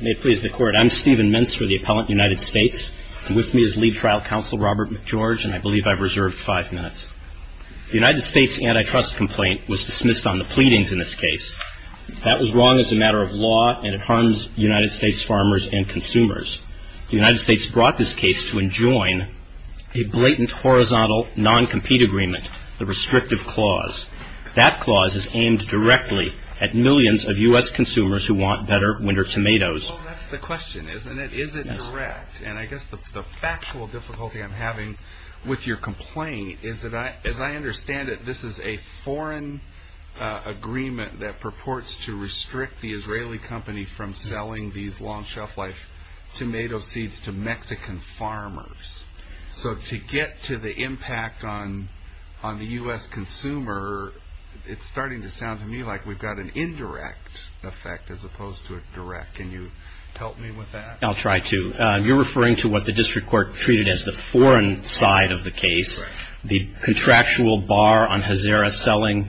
May it please the court. I'm Stephen Minster, the appellant, United States. With me is lead trial counsel Robert McGeorge, and I believe I've reserved five minutes. The United States antitrust complaint was dismissed on the pleadings in this case. That was wrong as a matter of law, and it harms United States farmers and consumers. The United States brought this case to enjoin a blatant horizontal non-compete agreement, the restrictive clause. That clause is aimed directly at millions of U.S. consumers who want better winter tomatoes. Well, that's the question, isn't it? Is it direct? And I guess the factual difficulty I'm having with your complaint is that, as I understand it, this is a foreign agreement that purports to restrict the Israeli company from selling these long shelf life tomato seeds to Mexican farmers. So to get to the impact on the U.S. consumer, it's starting to sound to me like we've got an indirect effect as opposed to a direct. Can you help me with that? I'll try to. You're referring to what the district court treated as the foreign side of the case, the contractual bar on Hazara selling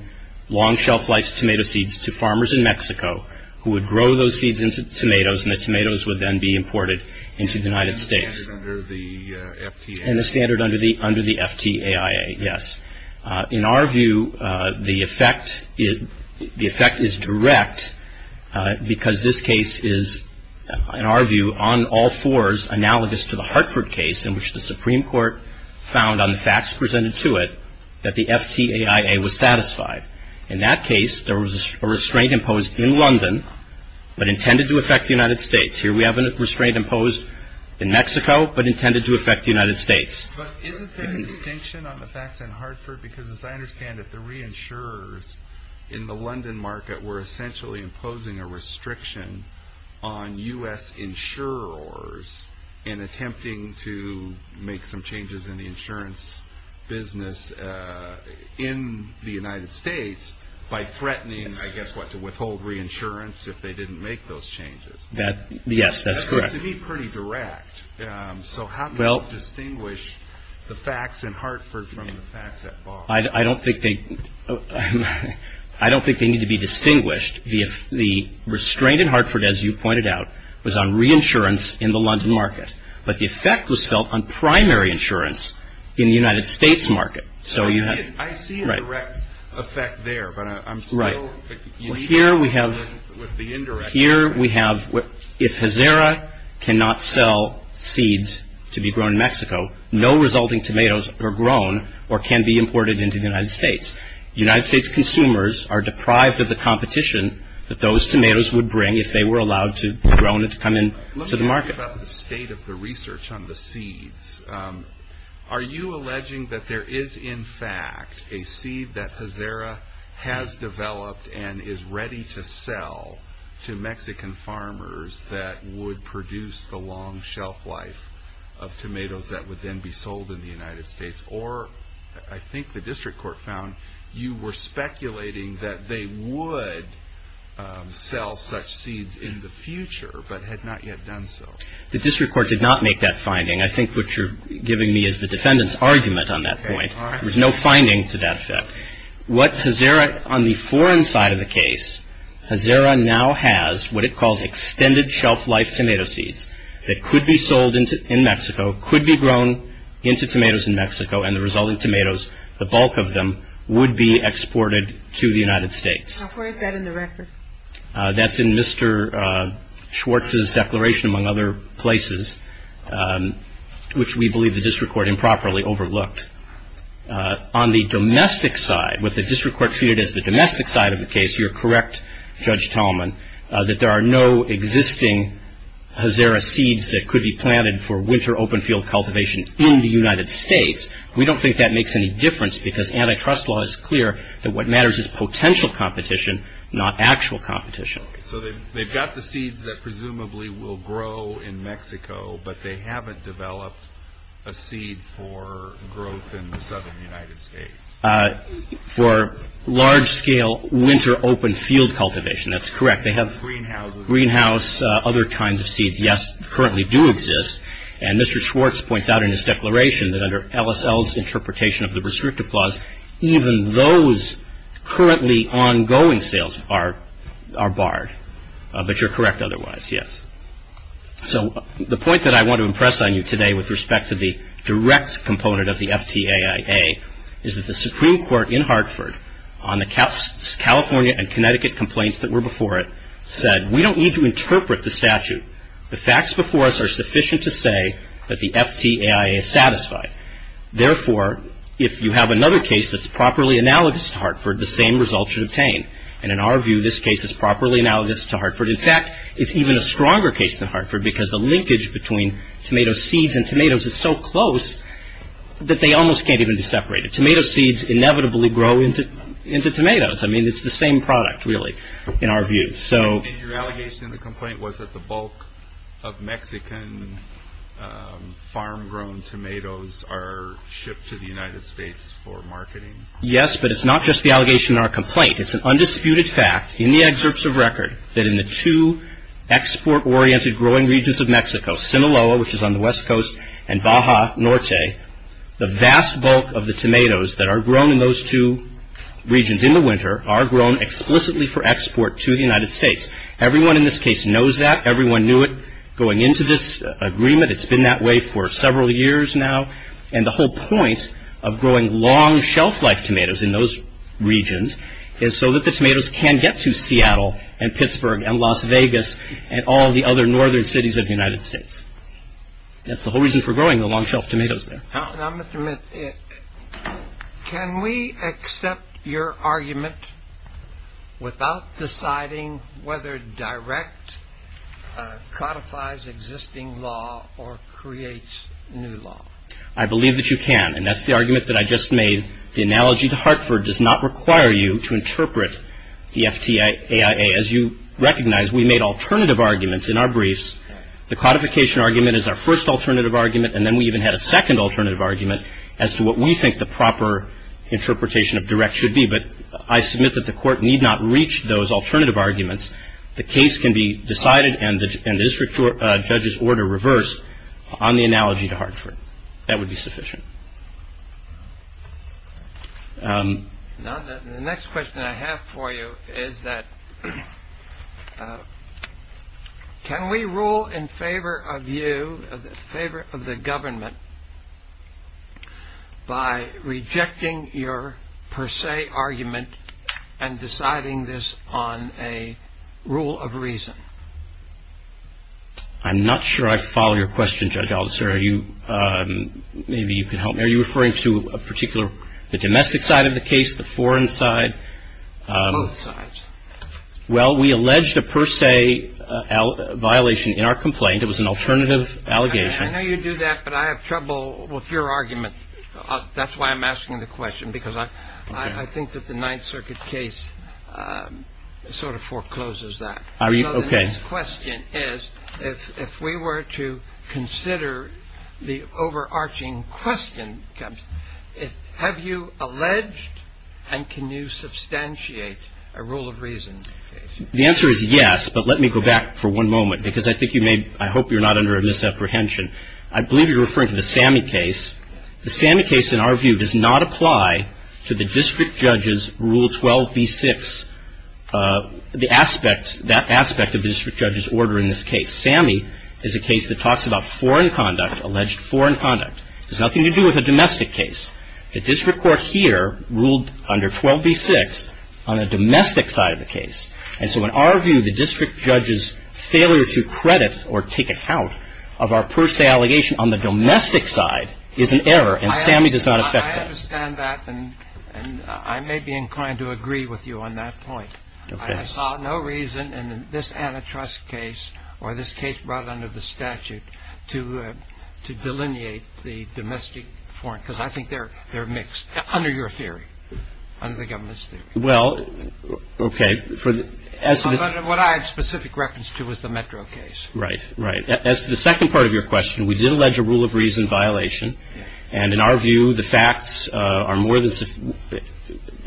long shelf life tomato seeds to farmers in Mexico who would grow those seeds into tomatoes, and the tomatoes would then be imported into the United States. And the standard under the FTAIA. Yes. In our view, the effect is direct because this case is, in our view, on all fours, analogous to the Hartford case in which the Supreme Court found on the facts presented to it that the FTAIA was satisfied. In that case, there was a restraint imposed in London but intended to affect the United States. Here we have a restraint imposed in Mexico but intended to affect the United States. But isn't there a distinction on the facts in Hartford? Because as I understand it, the reinsurers in the London market were essentially imposing a restriction on U.S. insurers in attempting to make some changes in the insurance business in the United States by threatening, I guess what, to withhold reinsurance if they didn't make those changes. Yes, that's correct. It seems to be pretty direct. So how can you distinguish the facts in Hartford from the facts at Bar? I don't think they need to be distinguished. The restraint in Hartford, as you pointed out, was on reinsurance in the London market. But the effect was felt on primary insurance in the United States market. I see a direct effect there, but I'm still... Here we have, if Hazara cannot sell seeds to be grown in Mexico, no resulting tomatoes are grown or can be imported into the United States. United States consumers are deprived of the competition that those tomatoes would bring if they were allowed to be grown and to come into the market. Let me ask you about the state of the research on the seeds. Are you alleging that there is, in fact, a seed that Hazara has developed and is ready to sell to Mexican farmers that would produce the long shelf life of tomatoes that would then be sold in the United States? Or, I think the district court found, you were speculating that they would sell such seeds in the future, but had not yet done so. The district court did not make that finding. I think what you're giving me is the defendant's argument on that point. There's no finding to that effect. What Hazara, on the foreign side of the case, Hazara now has what it calls extended shelf life tomato seeds that could be sold in Mexico, could be grown into tomatoes in Mexico, and the resulting tomatoes, the bulk of them, would be exported to the United States. Now, where is that in the record? That's in Mr. Schwartz's declaration, among other places, which we believe the district court improperly overlooked. On the domestic side, what the district court treated as the domestic side of the case, you're correct, Judge Tallman, that there are no existing Hazara seeds that could be planted for winter open field cultivation in the United States. We don't think that makes any difference because antitrust law is clear that what matters is potential competition, not actual competition. So they've got the seeds that presumably will grow in Mexico, but they haven't developed a seed for growth in the southern United States. For large-scale winter open field cultivation, that's correct. They have greenhouses, other kinds of seeds, yes, currently do exist. And Mr. Schwartz points out in his declaration that under LSL's interpretation of the prescriptive clause, even those currently ongoing sales are barred. But you're correct otherwise, yes. So the point that I want to impress on you today with respect to the direct component of the FTAIA is that the Supreme Court in Hartford on the California and Connecticut complaints that were before it said we don't need to interpret the statute. The facts before us are sufficient to say that the FTAIA is satisfied. Therefore, if you have another case that's properly analogous to Hartford, the same result should obtain. And in our view, this case is properly analogous to Hartford. In fact, it's even a stronger case than Hartford because the linkage between tomato seeds and tomatoes is so close that they almost can't even be separated. Tomato seeds inevitably grow into tomatoes. I mean, it's the same product, really, in our view. Your allegation in the complaint was that the bulk of Mexican farm-grown tomatoes are shipped to the United States for marketing. Yes, but it's not just the allegation in our complaint. It's an undisputed fact in the excerpts of record that in the two export-oriented growing regions of Mexico, Sinaloa, which is on the West Coast, and Baja Norte, the vast bulk of the tomatoes that are grown in those two regions in the winter are grown explicitly for export to the United States. Everyone in this case knows that. Everyone knew it going into this agreement. It's been that way for several years now. And the whole point of growing long-shelf-life tomatoes in those regions is so that the tomatoes can get to Seattle and Pittsburgh and Las Vegas and all the other northern cities of the United States. That's the whole reason for growing the long-shelf tomatoes there. Now, Mr. Mintz, can we accept your argument without deciding whether direct codifies existing law or creates new law? I believe that you can, and that's the argument that I just made. The analogy to Hartford does not require you to interpret the FTAIA. As you recognize, we made alternative arguments in our briefs. The codification argument is our first alternative argument, and then we even had a second alternative argument as to what we think the proper interpretation of direct should be. But I submit that the Court need not reach those alternative arguments. The case can be decided and the district judge's order reversed on the analogy to Hartford. That would be sufficient. Now, the next question I have for you is that can we rule in favor of you, in favor of the government, by rejecting your per se argument and deciding this on a rule of reason? I'm not sure I follow your question, Judge Aldister. Are you referring to a particular, the domestic side of the case, the foreign side? Both sides. Well, we alleged a per se violation in our complaint. It was an alternative allegation. I know you do that, but I have trouble with your argument. That's why I'm asking the question, because I think that the Ninth Circuit case sort of forecloses that. Okay. My next question is, if we were to consider the overarching question, have you alleged and can you substantiate a rule of reason? The answer is yes, but let me go back for one moment, because I think you may, I hope you're not under a misapprehension. I believe you're referring to the Sammy case. The Sammy case, in our view, does not apply to the district judge's Rule 12b-6. That aspect of the district judge's order in this case. Sammy is a case that talks about foreign conduct, alleged foreign conduct. It has nothing to do with a domestic case. The district court here ruled under 12b-6 on a domestic side of the case. And so in our view, the district judge's failure to credit or take account of our per se allegation on the domestic side is an error, and Sammy does not affect that. I understand that, and I may be inclined to agree with you on that point. Okay. I saw no reason in this antitrust case or this case brought under the statute to delineate the domestic foreign, because I think they're mixed, under your theory, under the government's theory. Well, okay. What I had specific reference to was the Metro case. Right, right. As to the second part of your question, we did allege a rule of reason violation, and in our view the facts are more than sufficient.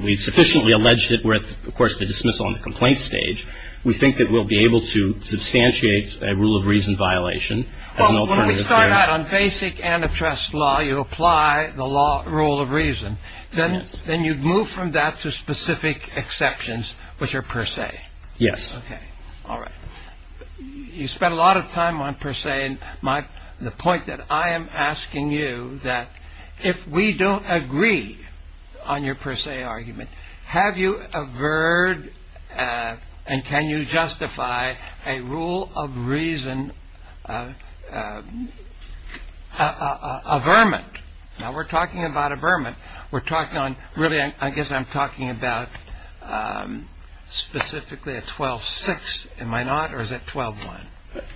We sufficiently alleged it with, of course, the dismissal on the complaint stage. We think that we'll be able to substantiate a rule of reason violation. Well, when we start out on basic antitrust law, you apply the law rule of reason. Yes. Then you move from that to specific exceptions, which are per se. Yes. Okay. All right. You spent a lot of time on per se, and the point that I am asking you, that if we don't agree on your per se argument, have you averred and can you justify a rule of reason averment? Now, we're talking about averment. Really, I guess I'm talking about specifically at 12-6, am I not, or is it 12-1?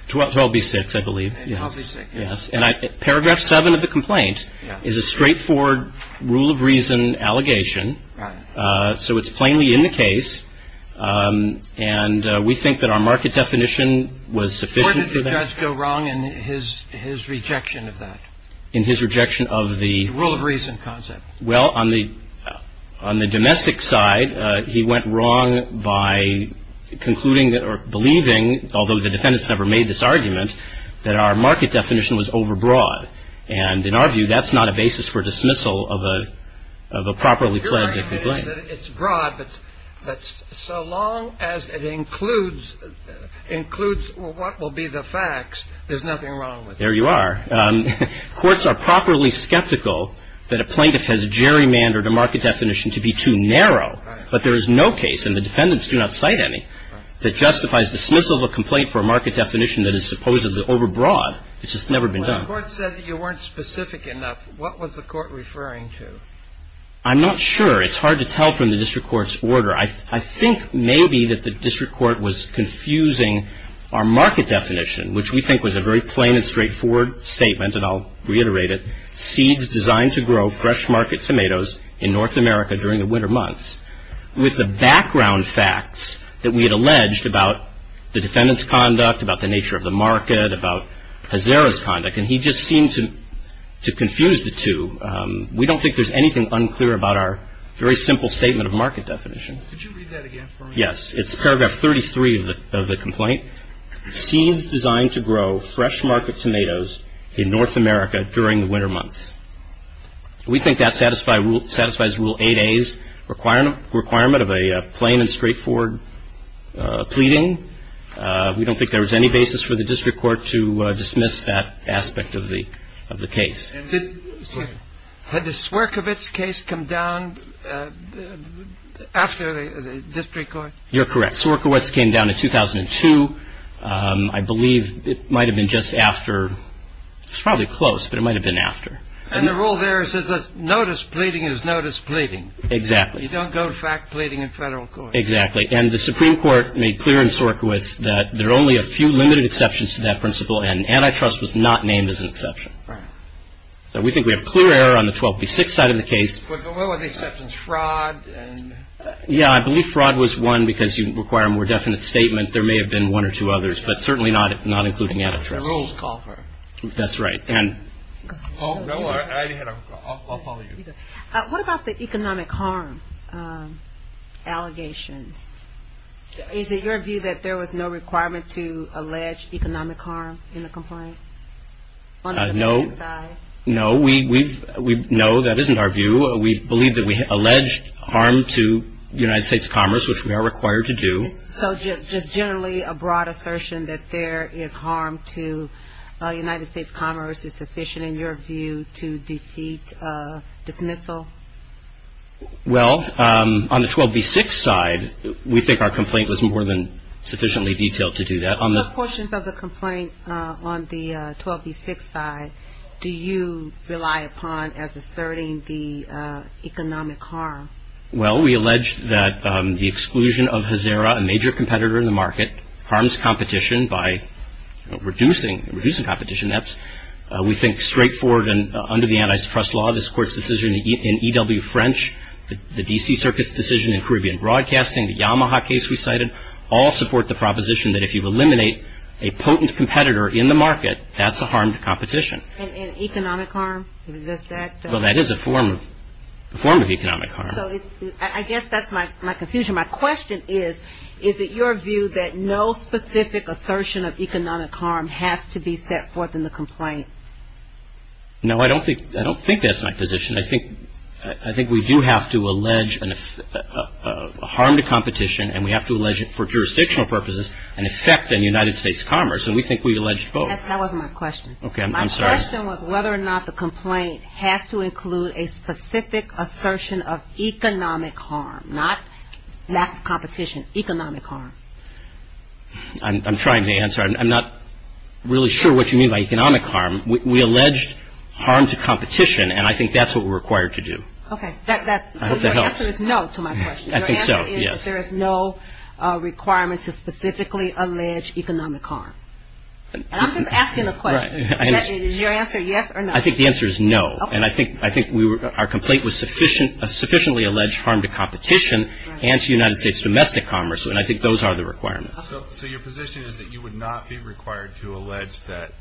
12-B-6, I believe. 12-B-6. Yes. And paragraph 7 of the complaint is a straightforward rule of reason allegation. Right. So it's plainly in the case, and we think that our market definition was sufficient for that. Where did the judge go wrong in his rejection of that? In his rejection of the? Rule of reason concept. Well, on the domestic side, he went wrong by concluding or believing, although the defendants never made this argument, that our market definition was overbroad. And in our view, that's not a basis for dismissal of a properly pledged complaint. Your argument is that it's broad, but so long as it includes what will be the facts, there's nothing wrong with it. There you are. Courts are properly skeptical that a plaintiff has gerrymandered a market definition to be too narrow. Right. But there is no case, and the defendants do not cite any, that justifies dismissal of a complaint for a market definition that is supposedly overbroad. It's just never been done. When the court said that you weren't specific enough, what was the court referring to? I'm not sure. It's hard to tell from the district court's order. I think maybe that the district court was confusing our market definition, which we think was a very plain and straightforward statement, and I'll reiterate it, seeds designed to grow fresh market tomatoes in North America during the winter months, with the background facts that we had alleged about the defendant's conduct, about the nature of the market, about Hazara's conduct. And he just seemed to confuse the two. We don't think there's anything unclear about our very simple statement of market definition. Could you read that again for me? Yes. It's paragraph 33 of the complaint. Seeds designed to grow fresh market tomatoes in North America during the winter months. We think that satisfies Rule 8A's requirement of a plain and straightforward pleading. We don't think there was any basis for the district court to dismiss that aspect of the case. Had the Swerkovitz case come down after the district court? You're correct. Swerkovitz came down in 2002. I believe it might have been just after. It's probably close, but it might have been after. And the rule there says that notice pleading is notice pleading. Exactly. You don't go to fact pleading in federal court. Exactly. And the Supreme Court made clear in Swerkovitz that there are only a few limited exceptions to that principle, and antitrust was not named as an exception. So we think we have clear error on the 12B6 side of the case. What were the exceptions? Fraud? Yeah, I believe fraud was one because you require a more definite statement. There may have been one or two others, but certainly not including antitrust. The rules call for it. That's right. I'll follow you. What about the economic harm allegations? Is it your view that there was no requirement to allege economic harm in the complaint? No. No, that isn't our view. We believe that we alleged harm to United States Commerce, which we are required to do. So just generally a broad assertion that there is harm to United States Commerce is sufficient in your view to defeat dismissal? Well, on the 12B6 side, we think our complaint was more than sufficiently detailed to do that. What portions of the complaint on the 12B6 side do you rely upon as asserting the economic harm? Well, we allege that the exclusion of Hazara, a major competitor in the market, harms competition by reducing competition. We think straightforward and under the antitrust law, this Court's decision in EW French, the D.C. Circuit's decision in Caribbean Broadcasting, the Yamaha case we cited, all support the proposition that if you eliminate a potent competitor in the market, that's a harm to competition. And economic harm? Well, that is a form of economic harm. So I guess that's my confusion. My question is, is it your view that no specific assertion of economic harm has to be set forth in the complaint? No, I don't think that's my position. I think we do have to allege a harm to competition, and we have to allege it for jurisdictional purposes, an effect on United States commerce, and we think we allege both. That wasn't my question. Okay, I'm sorry. My question was whether or not the complaint has to include a specific assertion of economic harm, not competition, economic harm. I'm trying to answer. I'm not really sure what you mean by economic harm. We allege harm to competition, and I think that's what we're required to do. Okay. I hope that helps. So your answer is no to my question. I think so, yes. Your answer is there is no requirement to specifically allege economic harm. And I'm just asking a question. Right. Is your answer yes or no? I think the answer is no. Okay. And I think our complaint was sufficiently allege harm to competition and to United States domestic commerce, and I think those are the requirements. So your position is that you would not be required to allege that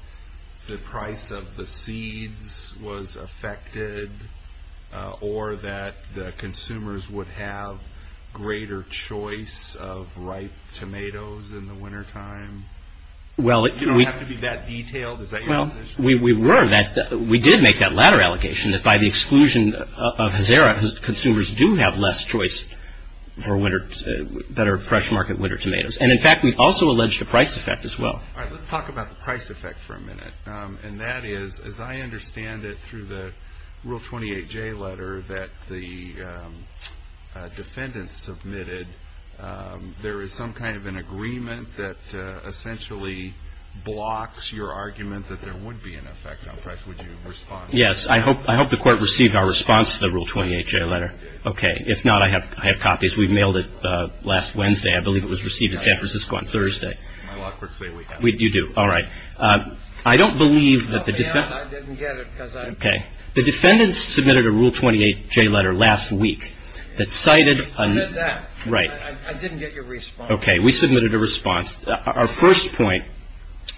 the price of the seeds was affected or that the consumers would have greater choice of ripe tomatoes in the wintertime? You don't have to be that detailed. Is that your position? Well, we were. We did make that latter allocation, that by the exclusion of Hazara, consumers do have less choice for better fresh market winter tomatoes. And, in fact, we also alleged a price effect as well. All right. Let's talk about the price effect for a minute, and that is, as I understand it through the Rule 28J letter that the defendants submitted, there is some kind of an agreement that essentially blocks your argument that there would be an effect on price. Would you respond? Yes. I hope the Court received our response to the Rule 28J letter. Okay. If not, I have copies. We mailed it last Wednesday. I believe it was received in San Francisco on Thursday. My lockers say we have it. You do. All right. I don't believe that the defendants – I'll be honest. I didn't get it because I – Okay. The defendants submitted a Rule 28J letter last week that cited a – I read that. Right. I didn't get your response. Okay. We submitted a response. Our first point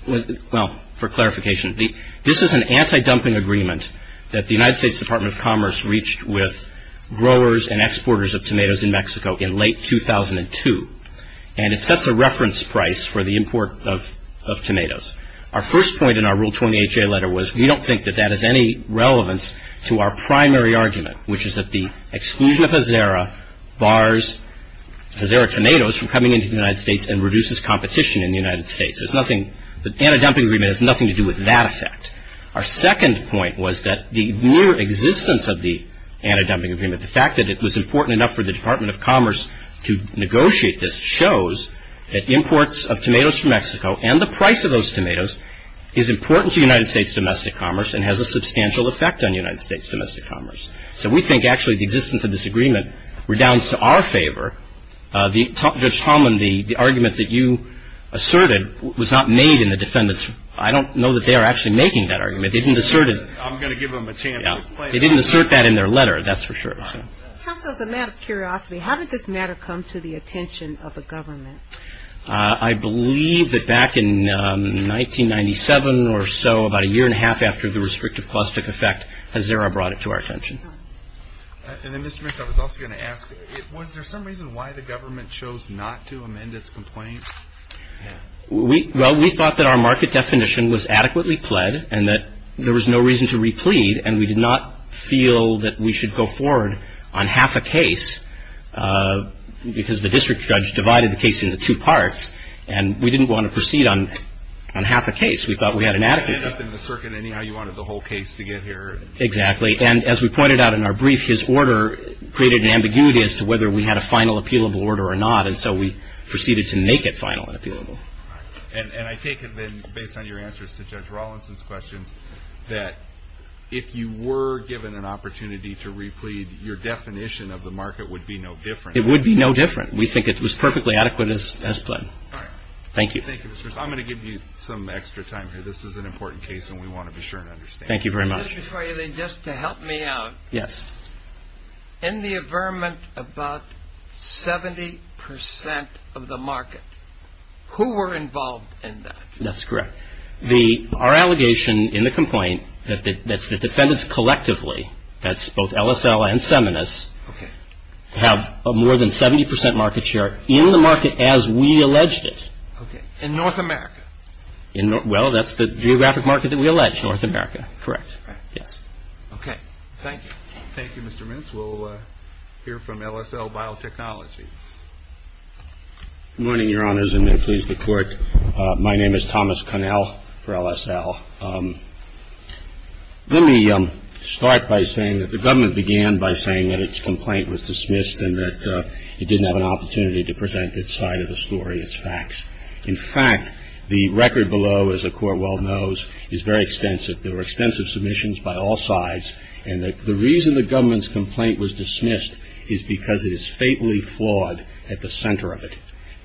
was – well, for clarification, this is an anti-dumping agreement that the United States Department of Commerce reached with growers and exporters of tomatoes in Mexico in late 2002. And it sets a reference price for the import of tomatoes. Our first point in our Rule 28J letter was we don't think that that has any relevance to our primary argument, which is that the exclusion of Azera bars – Azera tomatoes from coming into the United States and reduces competition in the United States. There's nothing – the anti-dumping agreement has nothing to do with that effect. Our second point was that the mere existence of the anti-dumping agreement, the fact that it was important enough for the Department of Commerce to negotiate this, shows that imports of tomatoes from Mexico and the price of those tomatoes is important to United States domestic commerce and has a substantial effect on United States domestic commerce. So we think, actually, the existence of this agreement redounds to our favor. The – Judge Tomlin, the argument that you asserted was not made in the defendants' – I don't know that they are actually making that argument. They didn't assert it. I'm going to give them a chance to explain it. They didn't assert that in their letter, that's for sure. Just as a matter of curiosity, how did this matter come to the attention of the government? I believe that back in 1997 or so, about a year and a half after the restrictive clause took effect, Azera brought it to our attention. And then, Mr. Mitchell, I was also going to ask, was there some reason why the government chose not to amend its complaint? We – well, we thought that our market definition was adequately pled and that there was no reason to replead and we did not feel that we should go forward on half a case because the district judge divided the case into two parts and we didn't want to proceed on half a case. We thought we had an adequate – You ended up in the circuit. Anyhow, you wanted the whole case to get here. Exactly. And as we pointed out in our brief, his order created an ambiguity as to whether we had a final appealable order or not. And so we proceeded to make it final and appealable. And I take it then, based on your answers to Judge Rawlinson's questions, that if you were given an opportunity to replead, your definition of the market would be no different. It would be no different. We think it was perfectly adequate as pled. All right. Thank you. Thank you, Mr. – I'm going to give you some extra time here. This is an important case and we want to be sure and understand. Thank you very much. Just before you leave, just to help me out. Yes. In the averment about 70 percent of the market, who were involved in that? That's correct. Our allegation in the complaint that the defendants collectively, that's both LSL and Seminis, have more than 70 percent market share in the market as we alleged it. Okay. In North America? Well, that's the geographic market that we alleged, North America. Correct. Yes. Okay. Thank you. Thank you, Mr. Mintz. We'll hear from LSL Biotechnology. Good morning, Your Honors, and may it please the Court. My name is Thomas Connell for LSL. Let me start by saying that the government began by saying that its complaint was dismissed and that it didn't have an opportunity to present its side of the story, its facts. In fact, the record below, as the Court well knows, is very extensive. There were extensive submissions by all sides, and the reason the government's complaint was dismissed is because it is fatally flawed at the center of it.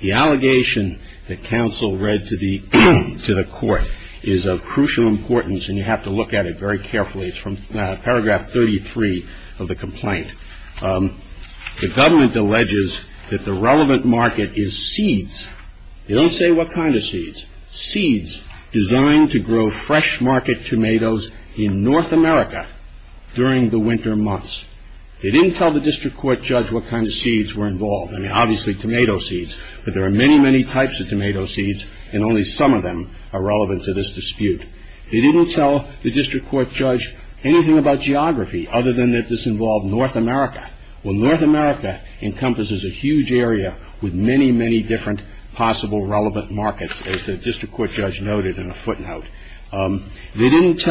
The allegation that counsel read to the Court is of crucial importance, and you have to look at it very carefully. It's from paragraph 33 of the complaint. The government alleges that the relevant market is seeds. They don't say what kind of seeds. Seeds designed to grow fresh market tomatoes in North America during the winter months. They didn't tell the district court judge what kind of seeds were involved. I mean, obviously tomato seeds, but there are many, many types of tomato seeds, and only some of them are relevant to this dispute. They didn't tell the district court judge anything about geography, other than that this involved North America. Well, North America encompasses a huge area with many, many different possible relevant markets, as the district court judge noted in a footnote. They didn't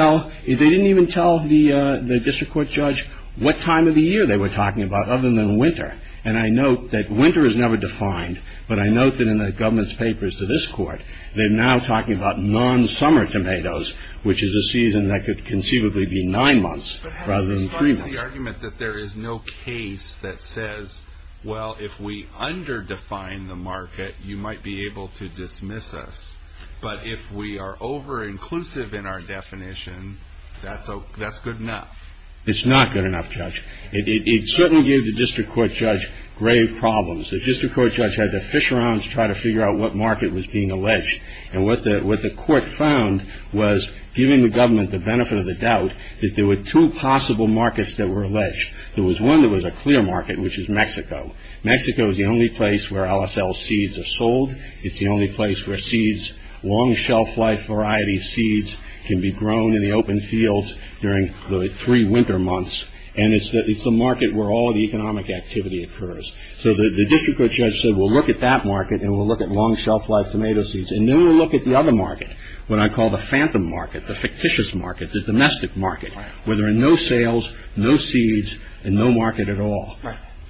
even tell the district court judge what time of the year they were talking about, other than winter, and I note that winter is never defined, but I note that in the government's papers to this Court, they're now talking about non-summer tomatoes, which is a season that could conceivably be nine months rather than three months. So you're making the argument that there is no case that says, well, if we under-define the market, you might be able to dismiss us, but if we are over-inclusive in our definition, that's good enough. It's not good enough, Judge. It certainly gave the district court judge grave problems. The district court judge had to fish around to try to figure out what market was being alleged, and what the court found was, giving the government the benefit of the doubt, that there were two possible markets that were alleged. There was one that was a clear market, which is Mexico. Mexico is the only place where LSL seeds are sold. It's the only place where seeds, long shelf-life variety seeds, can be grown in the open fields during the three winter months, and it's the market where all the economic activity occurs. So the district court judge said, well, look at that market, and we'll look at long shelf-life tomato seeds, and then we'll look at the other market, what I call the phantom market, the fictitious market, the domestic market, where there are no sales, no seeds, and no market at all.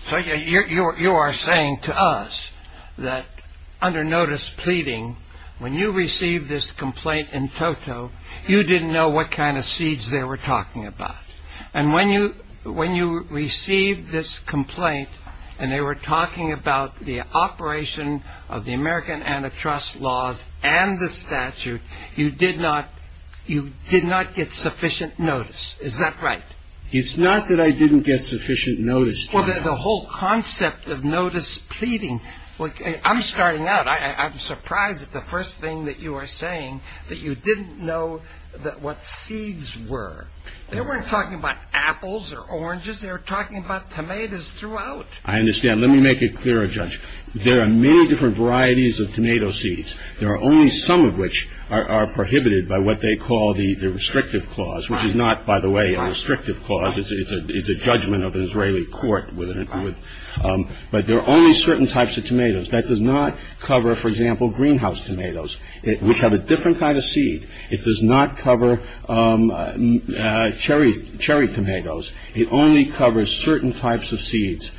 So you are saying to us that under notice pleading, when you received this complaint in Toto, you didn't know what kind of seeds they were talking about. And when you received this complaint, and they were talking about the operation of the American antitrust laws and the statute, you did not get sufficient notice. Is that right? It's not that I didn't get sufficient notice. Well, the whole concept of notice pleading, I'm starting out. I'm surprised at the first thing that you are saying, that you didn't know what seeds were. They weren't talking about apples or oranges. They were talking about tomatoes throughout. I understand. Let me make it clear, Judge. There are many different varieties of tomato seeds. There are only some of which are prohibited by what they call the restrictive clause, which is not, by the way, a restrictive clause. It's a judgment of an Israeli court. But there are only certain types of tomatoes. That does not cover, for example, greenhouse tomatoes, which have a different kind of seed. It does not cover cherry tomatoes. It only covers certain types of seeds.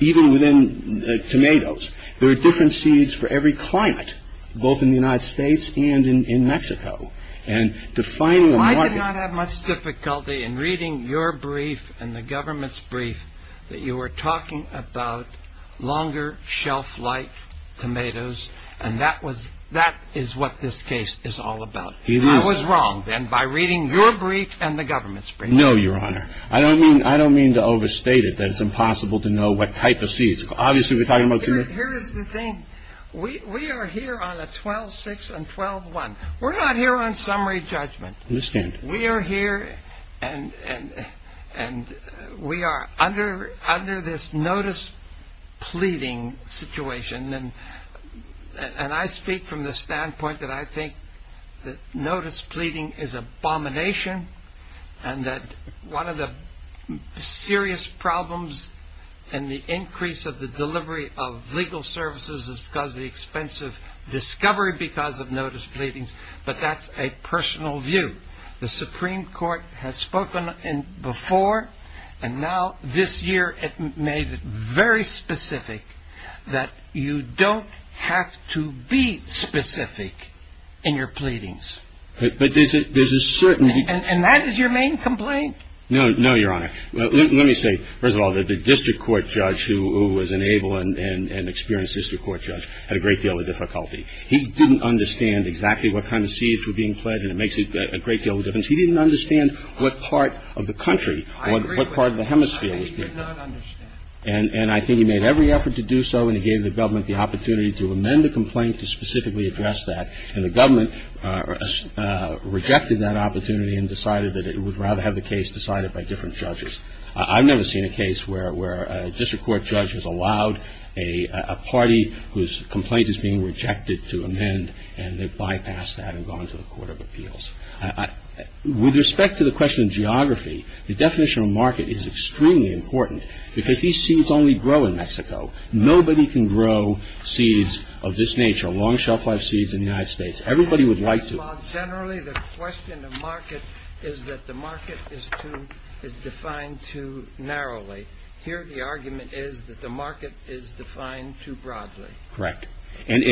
Even within tomatoes, there are different seeds for every climate, both in the United States and in Mexico. I did not have much difficulty in reading your brief and the government's brief that you were talking about longer shelf-life tomatoes, and that is what this case is all about. I was wrong then by reading your brief and the government's brief. No, Your Honor. I don't mean to overstate it, that it's impossible to know what type of seeds. Obviously, we're talking about tomatoes. Here is the thing. We are here on a 12-6 and 12-1. We're not here on summary judgment. I understand. We are here, and we are under this notice-pleading situation, and I speak from the standpoint that I think that notice-pleading is abomination and that one of the serious problems in the increase of the delivery of legal services is because of the expensive discovery because of notice-pleadings, but that's a personal view. The Supreme Court has spoken before, and now this year it made it very specific that you don't have to be specific in your pleadings. But there's a certain need. And that is your main complaint? No, Your Honor. Let me say, first of all, that the district court judge who was an able and experienced district court judge had a great deal of difficulty. He didn't understand exactly what kind of seeds were being pledged, and it makes a great deal of difference. He didn't understand what part of the country, what part of the hemisphere was being pledged. And I think he made every effort to do so, and he gave the government the opportunity to amend the complaint to specifically address that. And the government rejected that opportunity and decided that it would rather have the case decided by different judges. I've never seen a case where a district court judge has allowed a party whose complaint is being rejected to amend, and they've bypassed that and gone to the Court of Appeals. With respect to the question of geography, the definition of market is extremely important because these seeds only grow in Mexico. Nobody can grow seeds of this nature, long shelf life seeds in the United States. Everybody would like to. Well, generally, the question of market is that the market is defined too narrowly. Here the argument is that the market is defined too broadly. Correct. And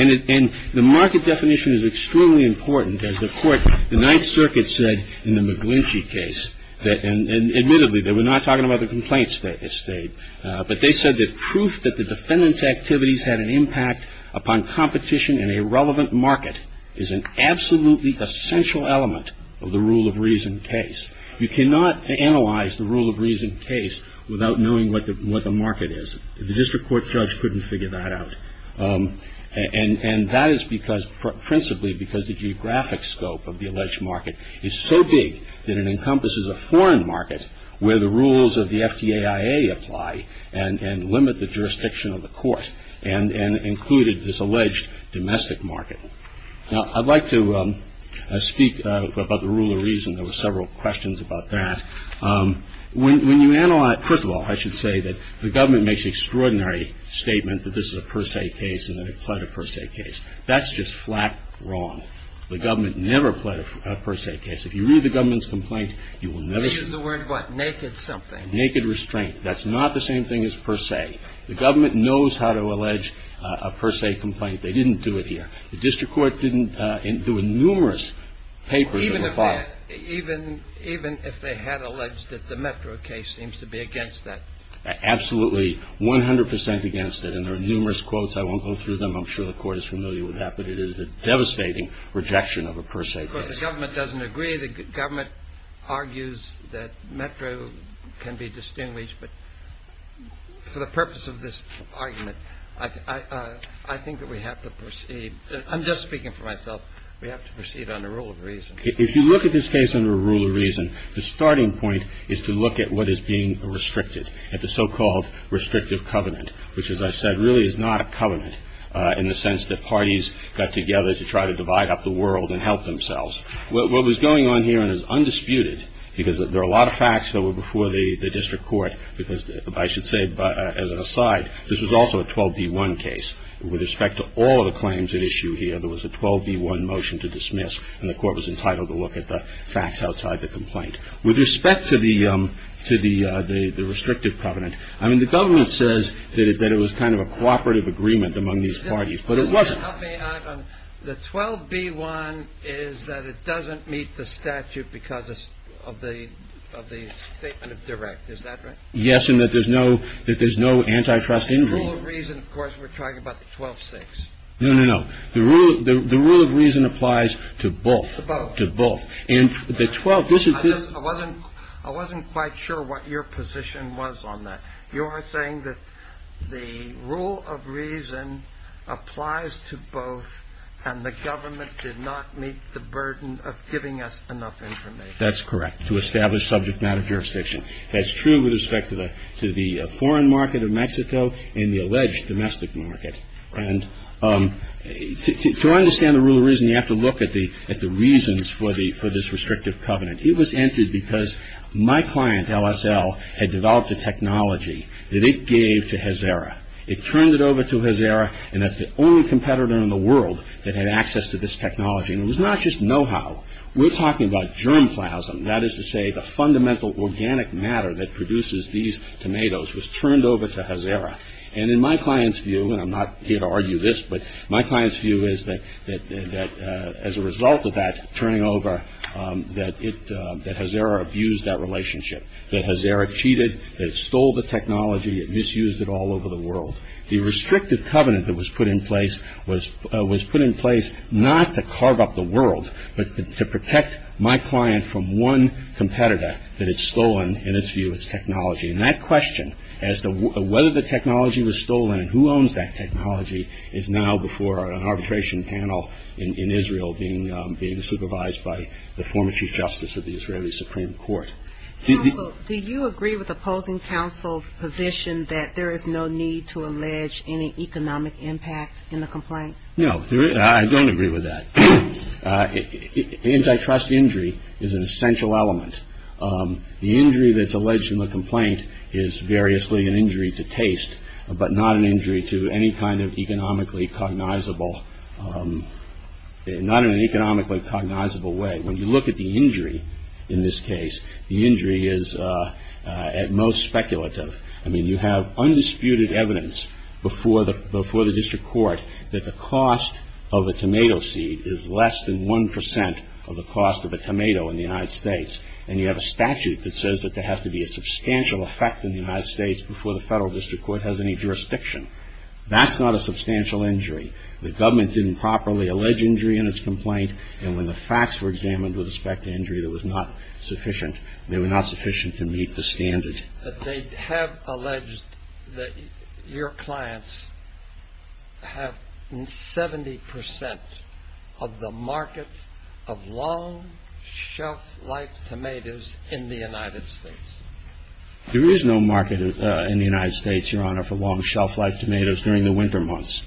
the market definition is extremely important. As the court, the Ninth Circuit said in the McGlinchey case, and admittedly, they were not talking about the complaints that stayed, but they said that proof that the defendant's activities had an impact upon competition in a relevant market is an absolutely essential element of the rule of reason case. You cannot analyze the rule of reason case without knowing what the market is. The district court judge couldn't figure that out. And that is principally because the geographic scope of the alleged market is so big that it encompasses a foreign market where the rules of the FDAIA apply and limit the jurisdiction of the court and included this alleged domestic market. Now, I'd like to speak about the rule of reason. There were several questions about that. First of all, I should say that the government makes the extraordinary statement that this is a per se case and that it pled a per se case. That's just flat wrong. The government never pled a per se case. If you read the government's complaint, you will never see it. They use the word what? Naked something. Naked restraint. That's not the same thing as per se. The government knows how to allege a per se complaint. They didn't do it here. The district court didn't. There were numerous papers that were filed. Even if they had alleged that the Metro case seems to be against that. Absolutely, 100 percent against it. And there are numerous quotes. I won't go through them. I'm sure the court is familiar with that. But it is a devastating rejection of a per se case. Of course, the government doesn't agree. The government argues that Metro can be distinguished. But for the purpose of this argument, I think that we have to proceed. I'm just speaking for myself. We have to proceed under a rule of reason. If you look at this case under a rule of reason, the starting point is to look at what is being restricted, at the so-called restrictive covenant, which, as I said, really is not a covenant, in the sense that parties got together to try to divide up the world and help themselves. What was going on here and is undisputed, because there are a lot of facts that were before the district court, because I should say, as an aside, this was also a 12b1 case. With respect to all of the claims at issue here, there was a 12b1 motion to dismiss, and the court was entitled to look at the facts outside the complaint. With respect to the restrictive covenant, I mean, the government says that it was kind of a cooperative agreement among these parties. But it wasn't. The 12b1 is that it doesn't meet the statute because of the statement of direct. Is that right? Yes, and that there's no antitrust agreement. The rule of reason, of course, we're talking about the 12-6. No, no, no. The rule of reason applies to both. To both. To both. I wasn't quite sure what your position was on that. You are saying that the rule of reason applies to both, and the government did not meet the burden of giving us enough information. That's correct, to establish subject matter jurisdiction. That's true with respect to the foreign market of Mexico and the alleged domestic market. And to understand the rule of reason, you have to look at the reasons for this restrictive covenant. It was entered because my client, LSL, had developed a technology that it gave to Hazara. It turned it over to Hazara, and that's the only competitor in the world that had access to this technology. And it was not just know-how. We're talking about germ plasm. That is to say, the fundamental organic matter that produces these tomatoes was turned over to Hazara. And in my client's view, and I'm not here to argue this, but my client's view is that as a result of that turning over, that Hazara abused that relationship, that Hazara cheated, that it stole the technology, it misused it all over the world. The restrictive covenant that was put in place was put in place not to carve up the world, but to protect my client from one competitor that had stolen, in its view, its technology. And that question, as to whether the technology was stolen and who owns that technology, is now before an arbitration panel in Israel being supervised by the former Chief Justice of the Israeli Supreme Court. Counsel, do you agree with opposing counsel's position that there is no need to allege any economic impact in the complaints? No, I don't agree with that. Antitrust injury is an essential element. The injury that's alleged in the complaint is variously an injury to taste, but not an injury to any kind of economically cognizable, not in an economically cognizable way. When you look at the injury in this case, the injury is at most speculative. I mean, you have undisputed evidence before the district court that the cost of a tomato seed is less than 1% of the cost of a tomato in the United States, and you have a statute that says that there has to be a substantial effect in the United States before the federal district court has any jurisdiction. That's not a substantial injury. The government didn't properly allege injury in its complaint, and when the facts were examined with respect to injury, they were not sufficient to meet the standard. They have alleged that your clients have 70% of the market of long shelf-life tomatoes in the United States. There is no market in the United States, Your Honor, for long shelf-life tomatoes during the winter months.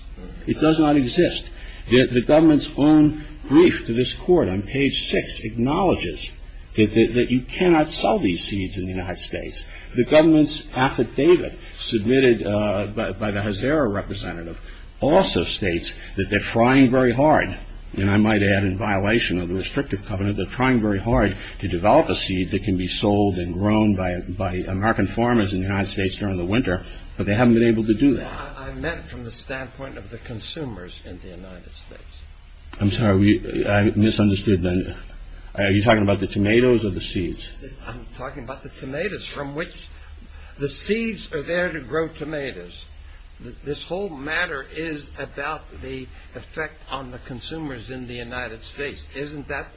It does not exist. The government's own brief to this court on page 6 acknowledges that you cannot sell these seeds in the United States. The government's affidavit submitted by the Hazara representative also states that they're trying very hard, and I might add in violation of the restrictive covenant, they're trying very hard to develop a seed that can be sold and grown by American farmers in the United States during the winter, but they haven't been able to do that. I meant from the standpoint of the consumers in the United States. I'm sorry, I misunderstood. Are you talking about the tomatoes or the seeds? I'm talking about the tomatoes, from which the seeds are there to grow tomatoes. This whole matter is about the effect on the consumers in the United States. Isn't that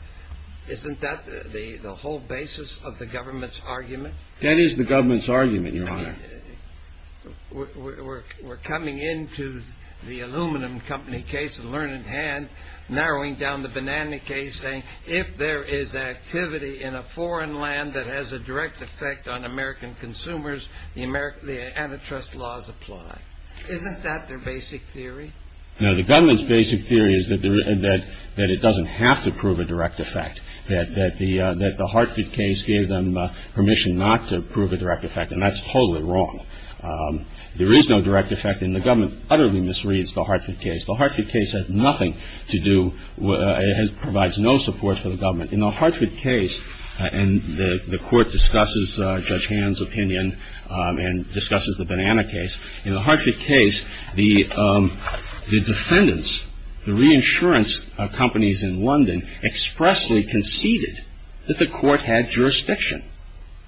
the whole basis of the government's argument? That is the government's argument, Your Honor. We're coming into the aluminum company case with a learning hand, narrowing down the banana case saying if there is activity in a foreign land that has a direct effect on American consumers, the antitrust laws apply. Isn't that their basic theory? No, the government's basic theory is that it doesn't have to prove a direct effect, that the Hartford case gave them permission not to prove a direct effect, and that's totally wrong. There is no direct effect, and the government utterly misreads the Hartford case. The Hartford case had nothing to do, provides no support for the government. In the Hartford case, and the court discusses Judge Hand's opinion and discusses the banana case, in the Hartford case, the defendants, the reinsurance companies in London, expressly conceded that the court had jurisdiction,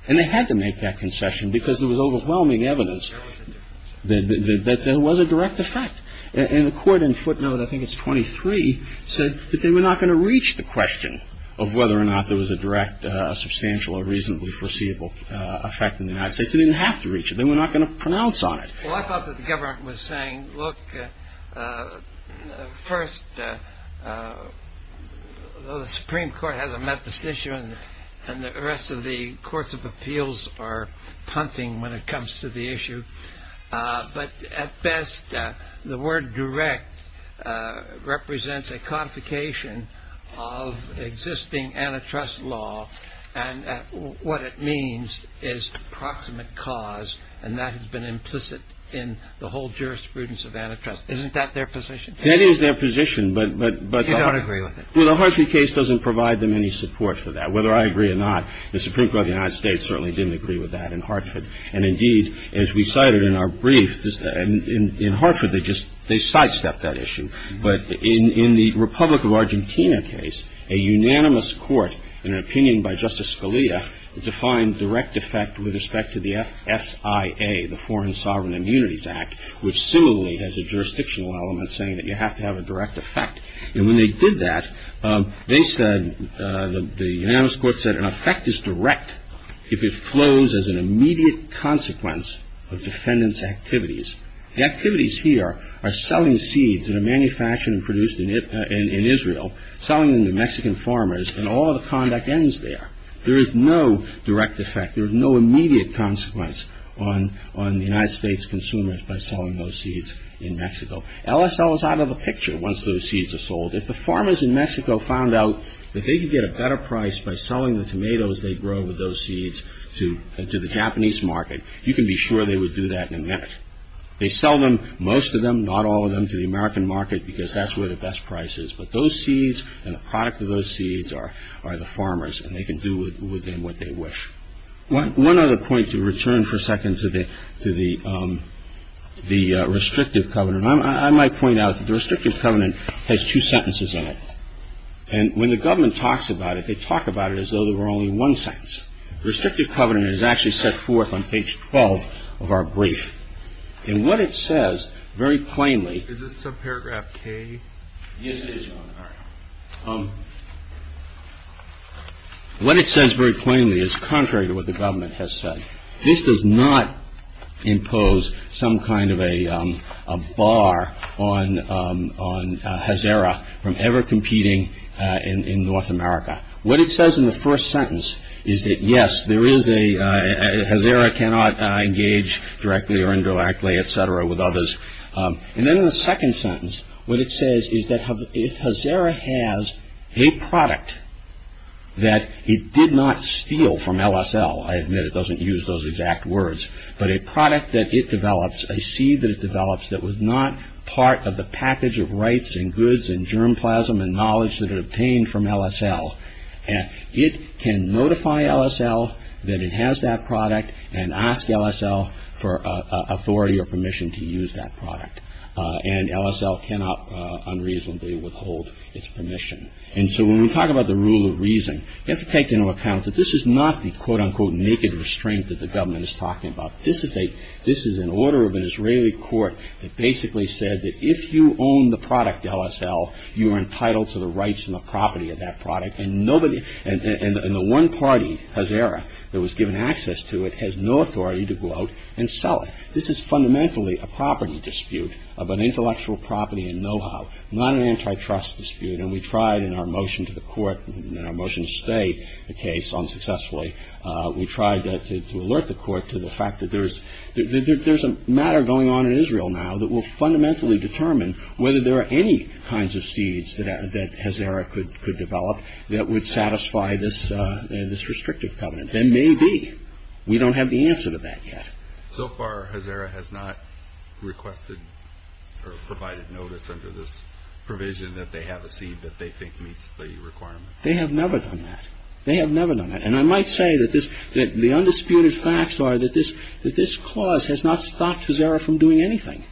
and they had to make that concession because there was overwhelming evidence that there was a direct effect, and the court in footnote, I think it's 23, said that they were not going to reach the question of whether or not there was a direct, substantial, or reasonably foreseeable effect in the United States. They didn't have to reach it. They were not going to pronounce on it. Well, I thought that the government was saying, look, first, the Supreme Court has a met this issue, and the rest of the courts of appeals are punting when it comes to the issue, but at best, the word direct represents a codification of existing antitrust law, and what it means is proximate cause, and that has been implicit in the whole jurisprudence of antitrust. Isn't that their position? That is their position, but the Hartford case doesn't provide them any support for that, whether I agree or not. The Supreme Court of the United States certainly didn't agree with that in Hartford, and indeed, as we cited in our brief, in Hartford, they sidestepped that issue, but in the Republic of Argentina case, a unanimous court in an opinion by Justice Scalia defined direct effect with respect to the FSIA, the Foreign Sovereign Immunities Act, which similarly has a jurisdictional element saying that you have to have a direct effect, and when they did that, they said, the unanimous court said, an effect is direct if it flows as an immediate consequence of defendant's activities. The activities here are selling seeds that are manufactured and produced in Israel, selling them to Mexican farmers, and all the conduct ends there. There is no direct effect. There is no immediate consequence on the United States consumers by selling those seeds in Mexico. LSL is out of the picture once those seeds are sold. If the farmers in Mexico found out that they could get a better price by selling the tomatoes they grow with those seeds to the Japanese market, you can be sure they would do that in a minute. They sell them, most of them, not all of them, to the American market because that's where the best price is, but those seeds and the product of those seeds are the farmers, and they can do with them what they wish. One other point to return for a second to the restrictive covenant. I might point out that the restrictive covenant has two sentences in it, and when the government talks about it, they talk about it as though there were only one sentence. The restrictive covenant is actually set forth on page 12 of our brief, and what it says very plainly... Is this subparagraph K? Yes, it is, John. All right. What it says very plainly is contrary to what the government has said. This does not impose some kind of a bar on Hazara from ever competing in North America. What it says in the first sentence is that, yes, there is a... Hazara cannot engage directly or indirectly, et cetera, with others. And then in the second sentence, what it says is that if Hazara has a product that it did not steal from LSL, I admit it doesn't use those exact words, but a product that it develops, a seed that it develops that was not part of the package of rights and goods and germplasm and knowledge that it obtained from LSL, it can notify LSL that it has that product and ask LSL for authority or permission to use that product. And LSL cannot unreasonably withhold its permission. And so when we talk about the rule of reason, we have to take into account that this is not the, quote-unquote, naked restraint that the government is talking about. This is an order of an Israeli court that basically said that if you own the product, LSL, you are entitled to the rights and the property of that product. And the one party, Hazara, that was given access to it has no authority to go out and sell it. This is fundamentally a property dispute of an intellectual property and know-how, not an antitrust dispute. And we tried in our motion to the court, in our motion to stay the case unsuccessfully, we tried to alert the court to the fact that there's a matter going on in Israel now that will fundamentally determine whether there are any kinds of seeds that Hazara could develop that would satisfy this restrictive covenant. There may be. We don't have the answer to that yet. So far, Hazara has not requested or provided notice under this provision that they have a seed that they think meets the requirement. They have never done that. They have never done that. And I might say that the undisputed facts are that this clause has not stopped Hazara from doing anything.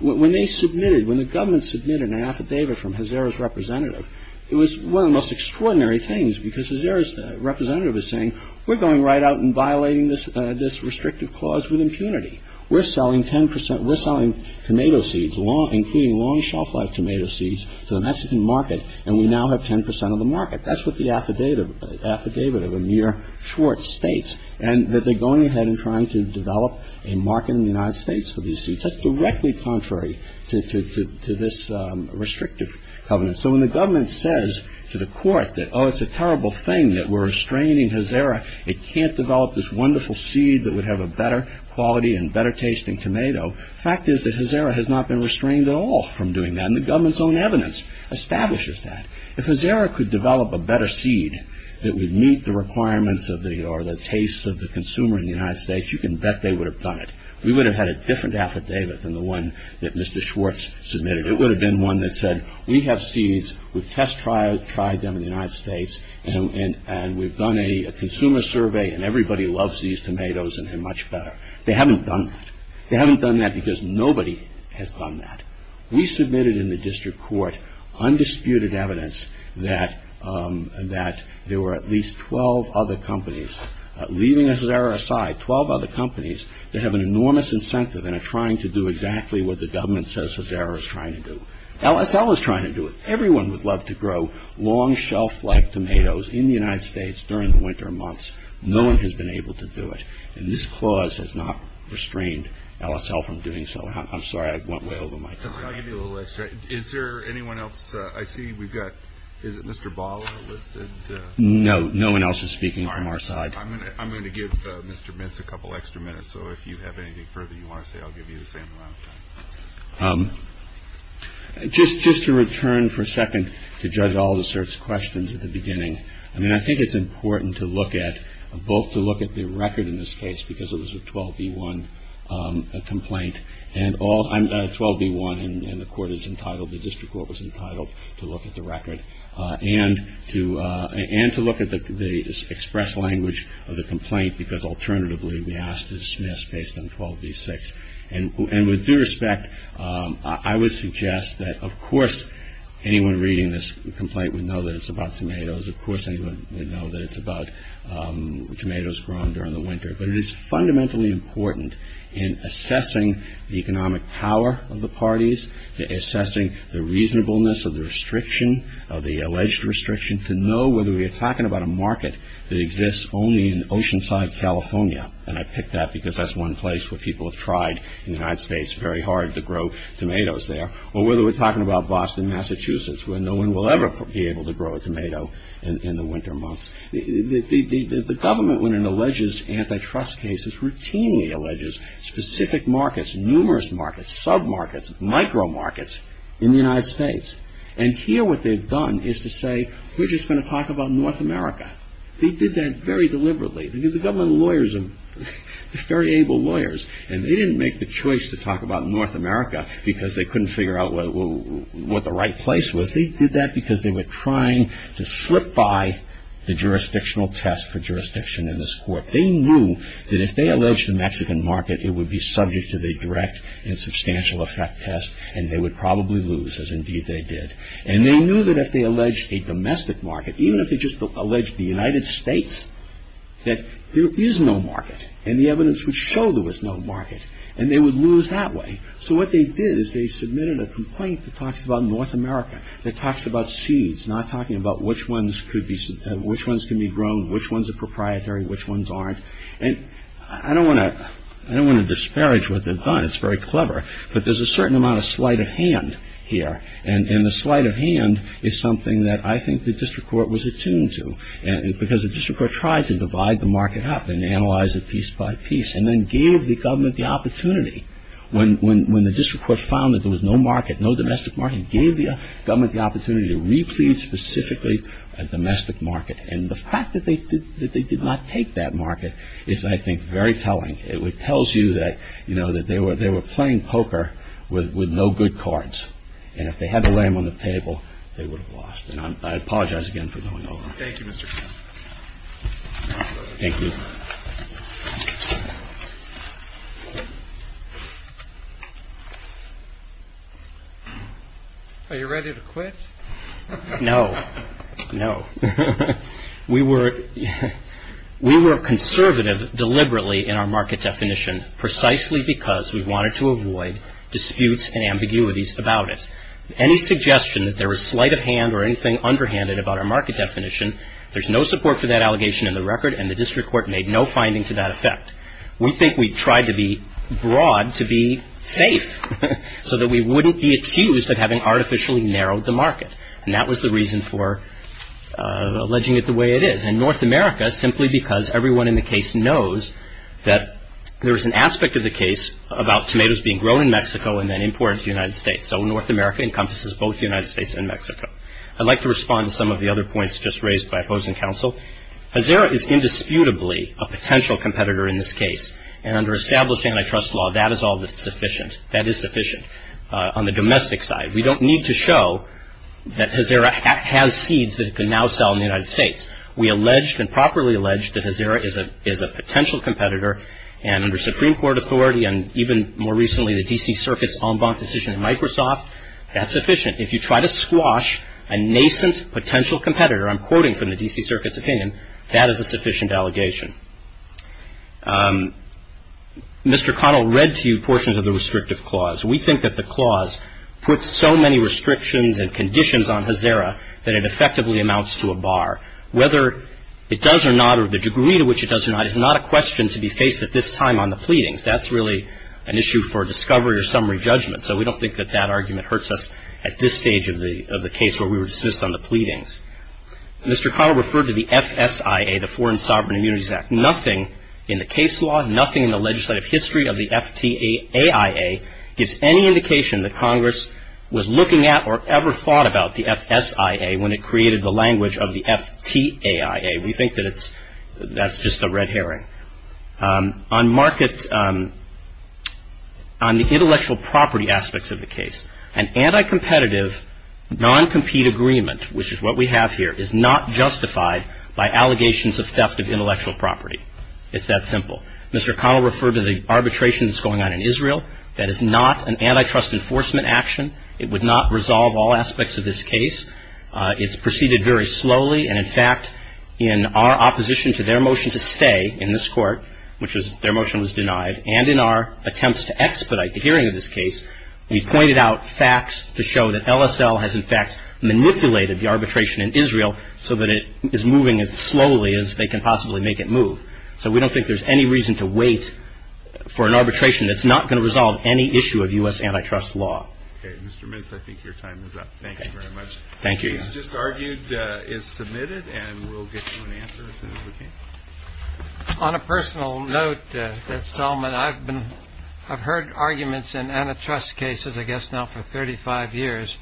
When they submitted, when the government submitted an affidavit from Hazara's representative, it was one of the most extraordinary things because Hazara's representative is saying, we're going right out and violating this restrictive clause with impunity. We're selling 10 percent. We're selling tomato seeds, including long shelf-life tomato seeds, to the Mexican market, and we now have 10 percent of the market. That's what the affidavit of Amir Schwartz states, and that they're going ahead and trying to develop a market in the United States for these seeds. That's directly contrary to this restrictive covenant. So when the government says to the court that, oh, it's a terrible thing that we're restraining Hazara, it can't develop this wonderful seed that would have a better quality and better tasting tomato, the fact is that Hazara has not been restrained at all from doing that, and the government's own evidence establishes that. If Hazara could develop a better seed that would meet the requirements or the tastes of the consumer in the United States, you can bet they would have done it. We would have had a different affidavit than the one that Mr. Schwartz submitted. It would have been one that said, we have seeds, we've test-tried them in the United States, and we've done a consumer survey, and everybody loves these tomatoes, and they're much better. They haven't done that. They haven't done that because nobody has done that. We submitted in the district court undisputed evidence that there were at least 12 other companies, leaving Hazara aside, 12 other companies that have an enormous incentive and are trying to do exactly what the government says Hazara is trying to do. LSL is trying to do it. Everyone would love to grow long, shelf-life tomatoes in the United States during the winter months. No one has been able to do it, and this clause has not restrained LSL from doing so. I'm sorry, I went way over my time. I'll give you a little extra. Is there anyone else? I see we've got, is it Mr. Bala listed? No. No one else is speaking from our side. I'm going to give Mr. Mintz a couple extra minutes, so if you have anything further you want to say, I'll give you the same amount of time. Just to return for a second to judge all the search questions at the beginning, I mean, I think it's important to look at, both to look at the record in this case, because it was a 12b1 complaint, and all, 12b1 and the court is entitled, the district court was entitled to look at the record, and to look at the express language of the complaint, because alternatively we asked to dismiss based on 12b6. And with due respect, I would suggest that, of course, anyone reading this complaint would know that it's about tomatoes, of course anyone would know that it's about tomatoes grown during the winter, but it is fundamentally important in assessing the economic power of the parties, assessing the reasonableness of the restriction, of the alleged restriction, to know whether we are talking about a market that exists only in Oceanside, California, and I picked that because that's one place where people have tried, in the United States, very hard to grow tomatoes there, or whether we're talking about Boston, Massachusetts, where no one will ever be able to grow a tomato in the winter months. The government, when it alleges antitrust cases, routinely alleges specific markets, numerous markets, sub-markets, micro-markets in the United States. And here what they've done is to say, we're just going to talk about North America. They did that very deliberately. The government lawyers are very able lawyers, and they didn't make the choice to talk about North America because they couldn't figure out what the right place was. They did that because they were trying to slip by the jurisdictional test for jurisdiction in this court. They knew that if they alleged a Mexican market, it would be subject to the direct and substantial effect test, and they would probably lose, as indeed they did. And they knew that if they alleged a domestic market, even if they just alleged the United States, that there is no market, and the evidence would show there was no market, and they would lose that way. So what they did is they submitted a complaint that talks about North America, that talks about seeds, not talking about which ones can be grown, which ones are proprietary, which ones aren't. And I don't want to disparage what they've done. It's very clever. But there's a certain amount of sleight of hand here, and the sleight of hand is something that I think the district court was attuned to because the district court tried to divide the market up and analyze it piece by piece and then gave the government the opportunity, when the district court found that there was no market, no domestic market, gave the government the opportunity to replete specifically a domestic market. And the fact that they did not take that market is, I think, very telling. It tells you that, you know, that they were playing poker with no good cards, and if they had the lamb on the table, they would have lost. And I apologize again for going over. Thank you, Mr. Chairman. Thank you. Are you ready to quit? No. No. We were conservative deliberately in our market definition, precisely because we wanted to avoid disputes and ambiguities about it. Any suggestion that there was sleight of hand or anything underhanded about our market definition, there's no support for that allegation in the record, and the district court made no finding to that effect. We think we tried to be broad to be safe so that we wouldn't be accused of having artificially narrowed the market. And that was the reason for alleging it the way it is. And North America, simply because everyone in the case knows that there was an aspect of the case about tomatoes being grown in Mexico and then imported to the United States. So North America encompasses both the United States and Mexico. I'd like to respond to some of the other points just raised by opposing counsel. Hazara is indisputably a potential competitor in this case, and under established antitrust law, that is all that's sufficient. That is sufficient. On the domestic side, we don't need to show that Hazara has seeds that it can now sell in the United States. We alleged and properly alleged that Hazara is a potential competitor, and under Supreme Court authority, and even more recently the D.C. Circuit's en banc decision in Microsoft, that's sufficient. If you try to squash a nascent potential competitor, I'm quoting from the D.C. Circuit's opinion, that is a sufficient allegation. Mr. Connell read to you portions of the restrictive clause. We think that the clause puts so many restrictions and conditions on Hazara that it effectively amounts to a bar. Whether it does or not or the degree to which it does or not is not a question to be faced at this time on the pleadings. That's really an issue for discovery or summary judgment, so we don't think that that argument hurts us at this stage of the case where we were dismissed on the pleadings. Mr. Connell referred to the FSIA, the Foreign Sovereign Immunities Act. Nothing in the case law, nothing in the legislative history of the FTAIA gives any indication that Congress was looking at or ever thought about the FSIA when it created the language of the FTAIA. We think that that's just a red herring. On market, on the intellectual property aspects of the case, an anti-competitive, non-compete agreement, which is what we have here, is not justified by allegations of theft of intellectual property. It's that simple. Mr. Connell referred to the arbitration that's going on in Israel. That is not an antitrust enforcement action. It would not resolve all aspects of this case. It's proceeded very slowly, and, in fact, in our opposition to their motion to stay in this court, which is their motion was denied, and in our attempts to expedite the hearing of this case, we pointed out facts to show that LSL has, in fact, manipulated the arbitration in Israel so that it is moving as slowly as they can possibly make it move. So we don't think there's any reason to wait for an arbitration that's not going to resolve any issue of U.S. antitrust law. Okay, Mr. Mintz, I think your time is up. Thank you very much. This just argued is submitted, and we'll get you an answer as soon as we can. On a personal note, Mr. Solomon, I've heard arguments in antitrust cases, I guess, now for 35 years,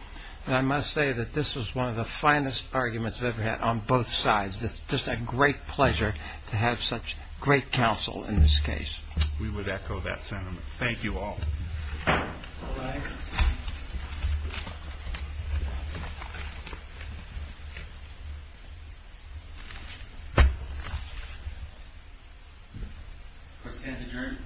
and I must say that this was one of the finest arguments I've ever had on both sides. It's just a great pleasure to have such great counsel in this case. We would echo that sentiment. Thank you all. All rise. Questions adjourned.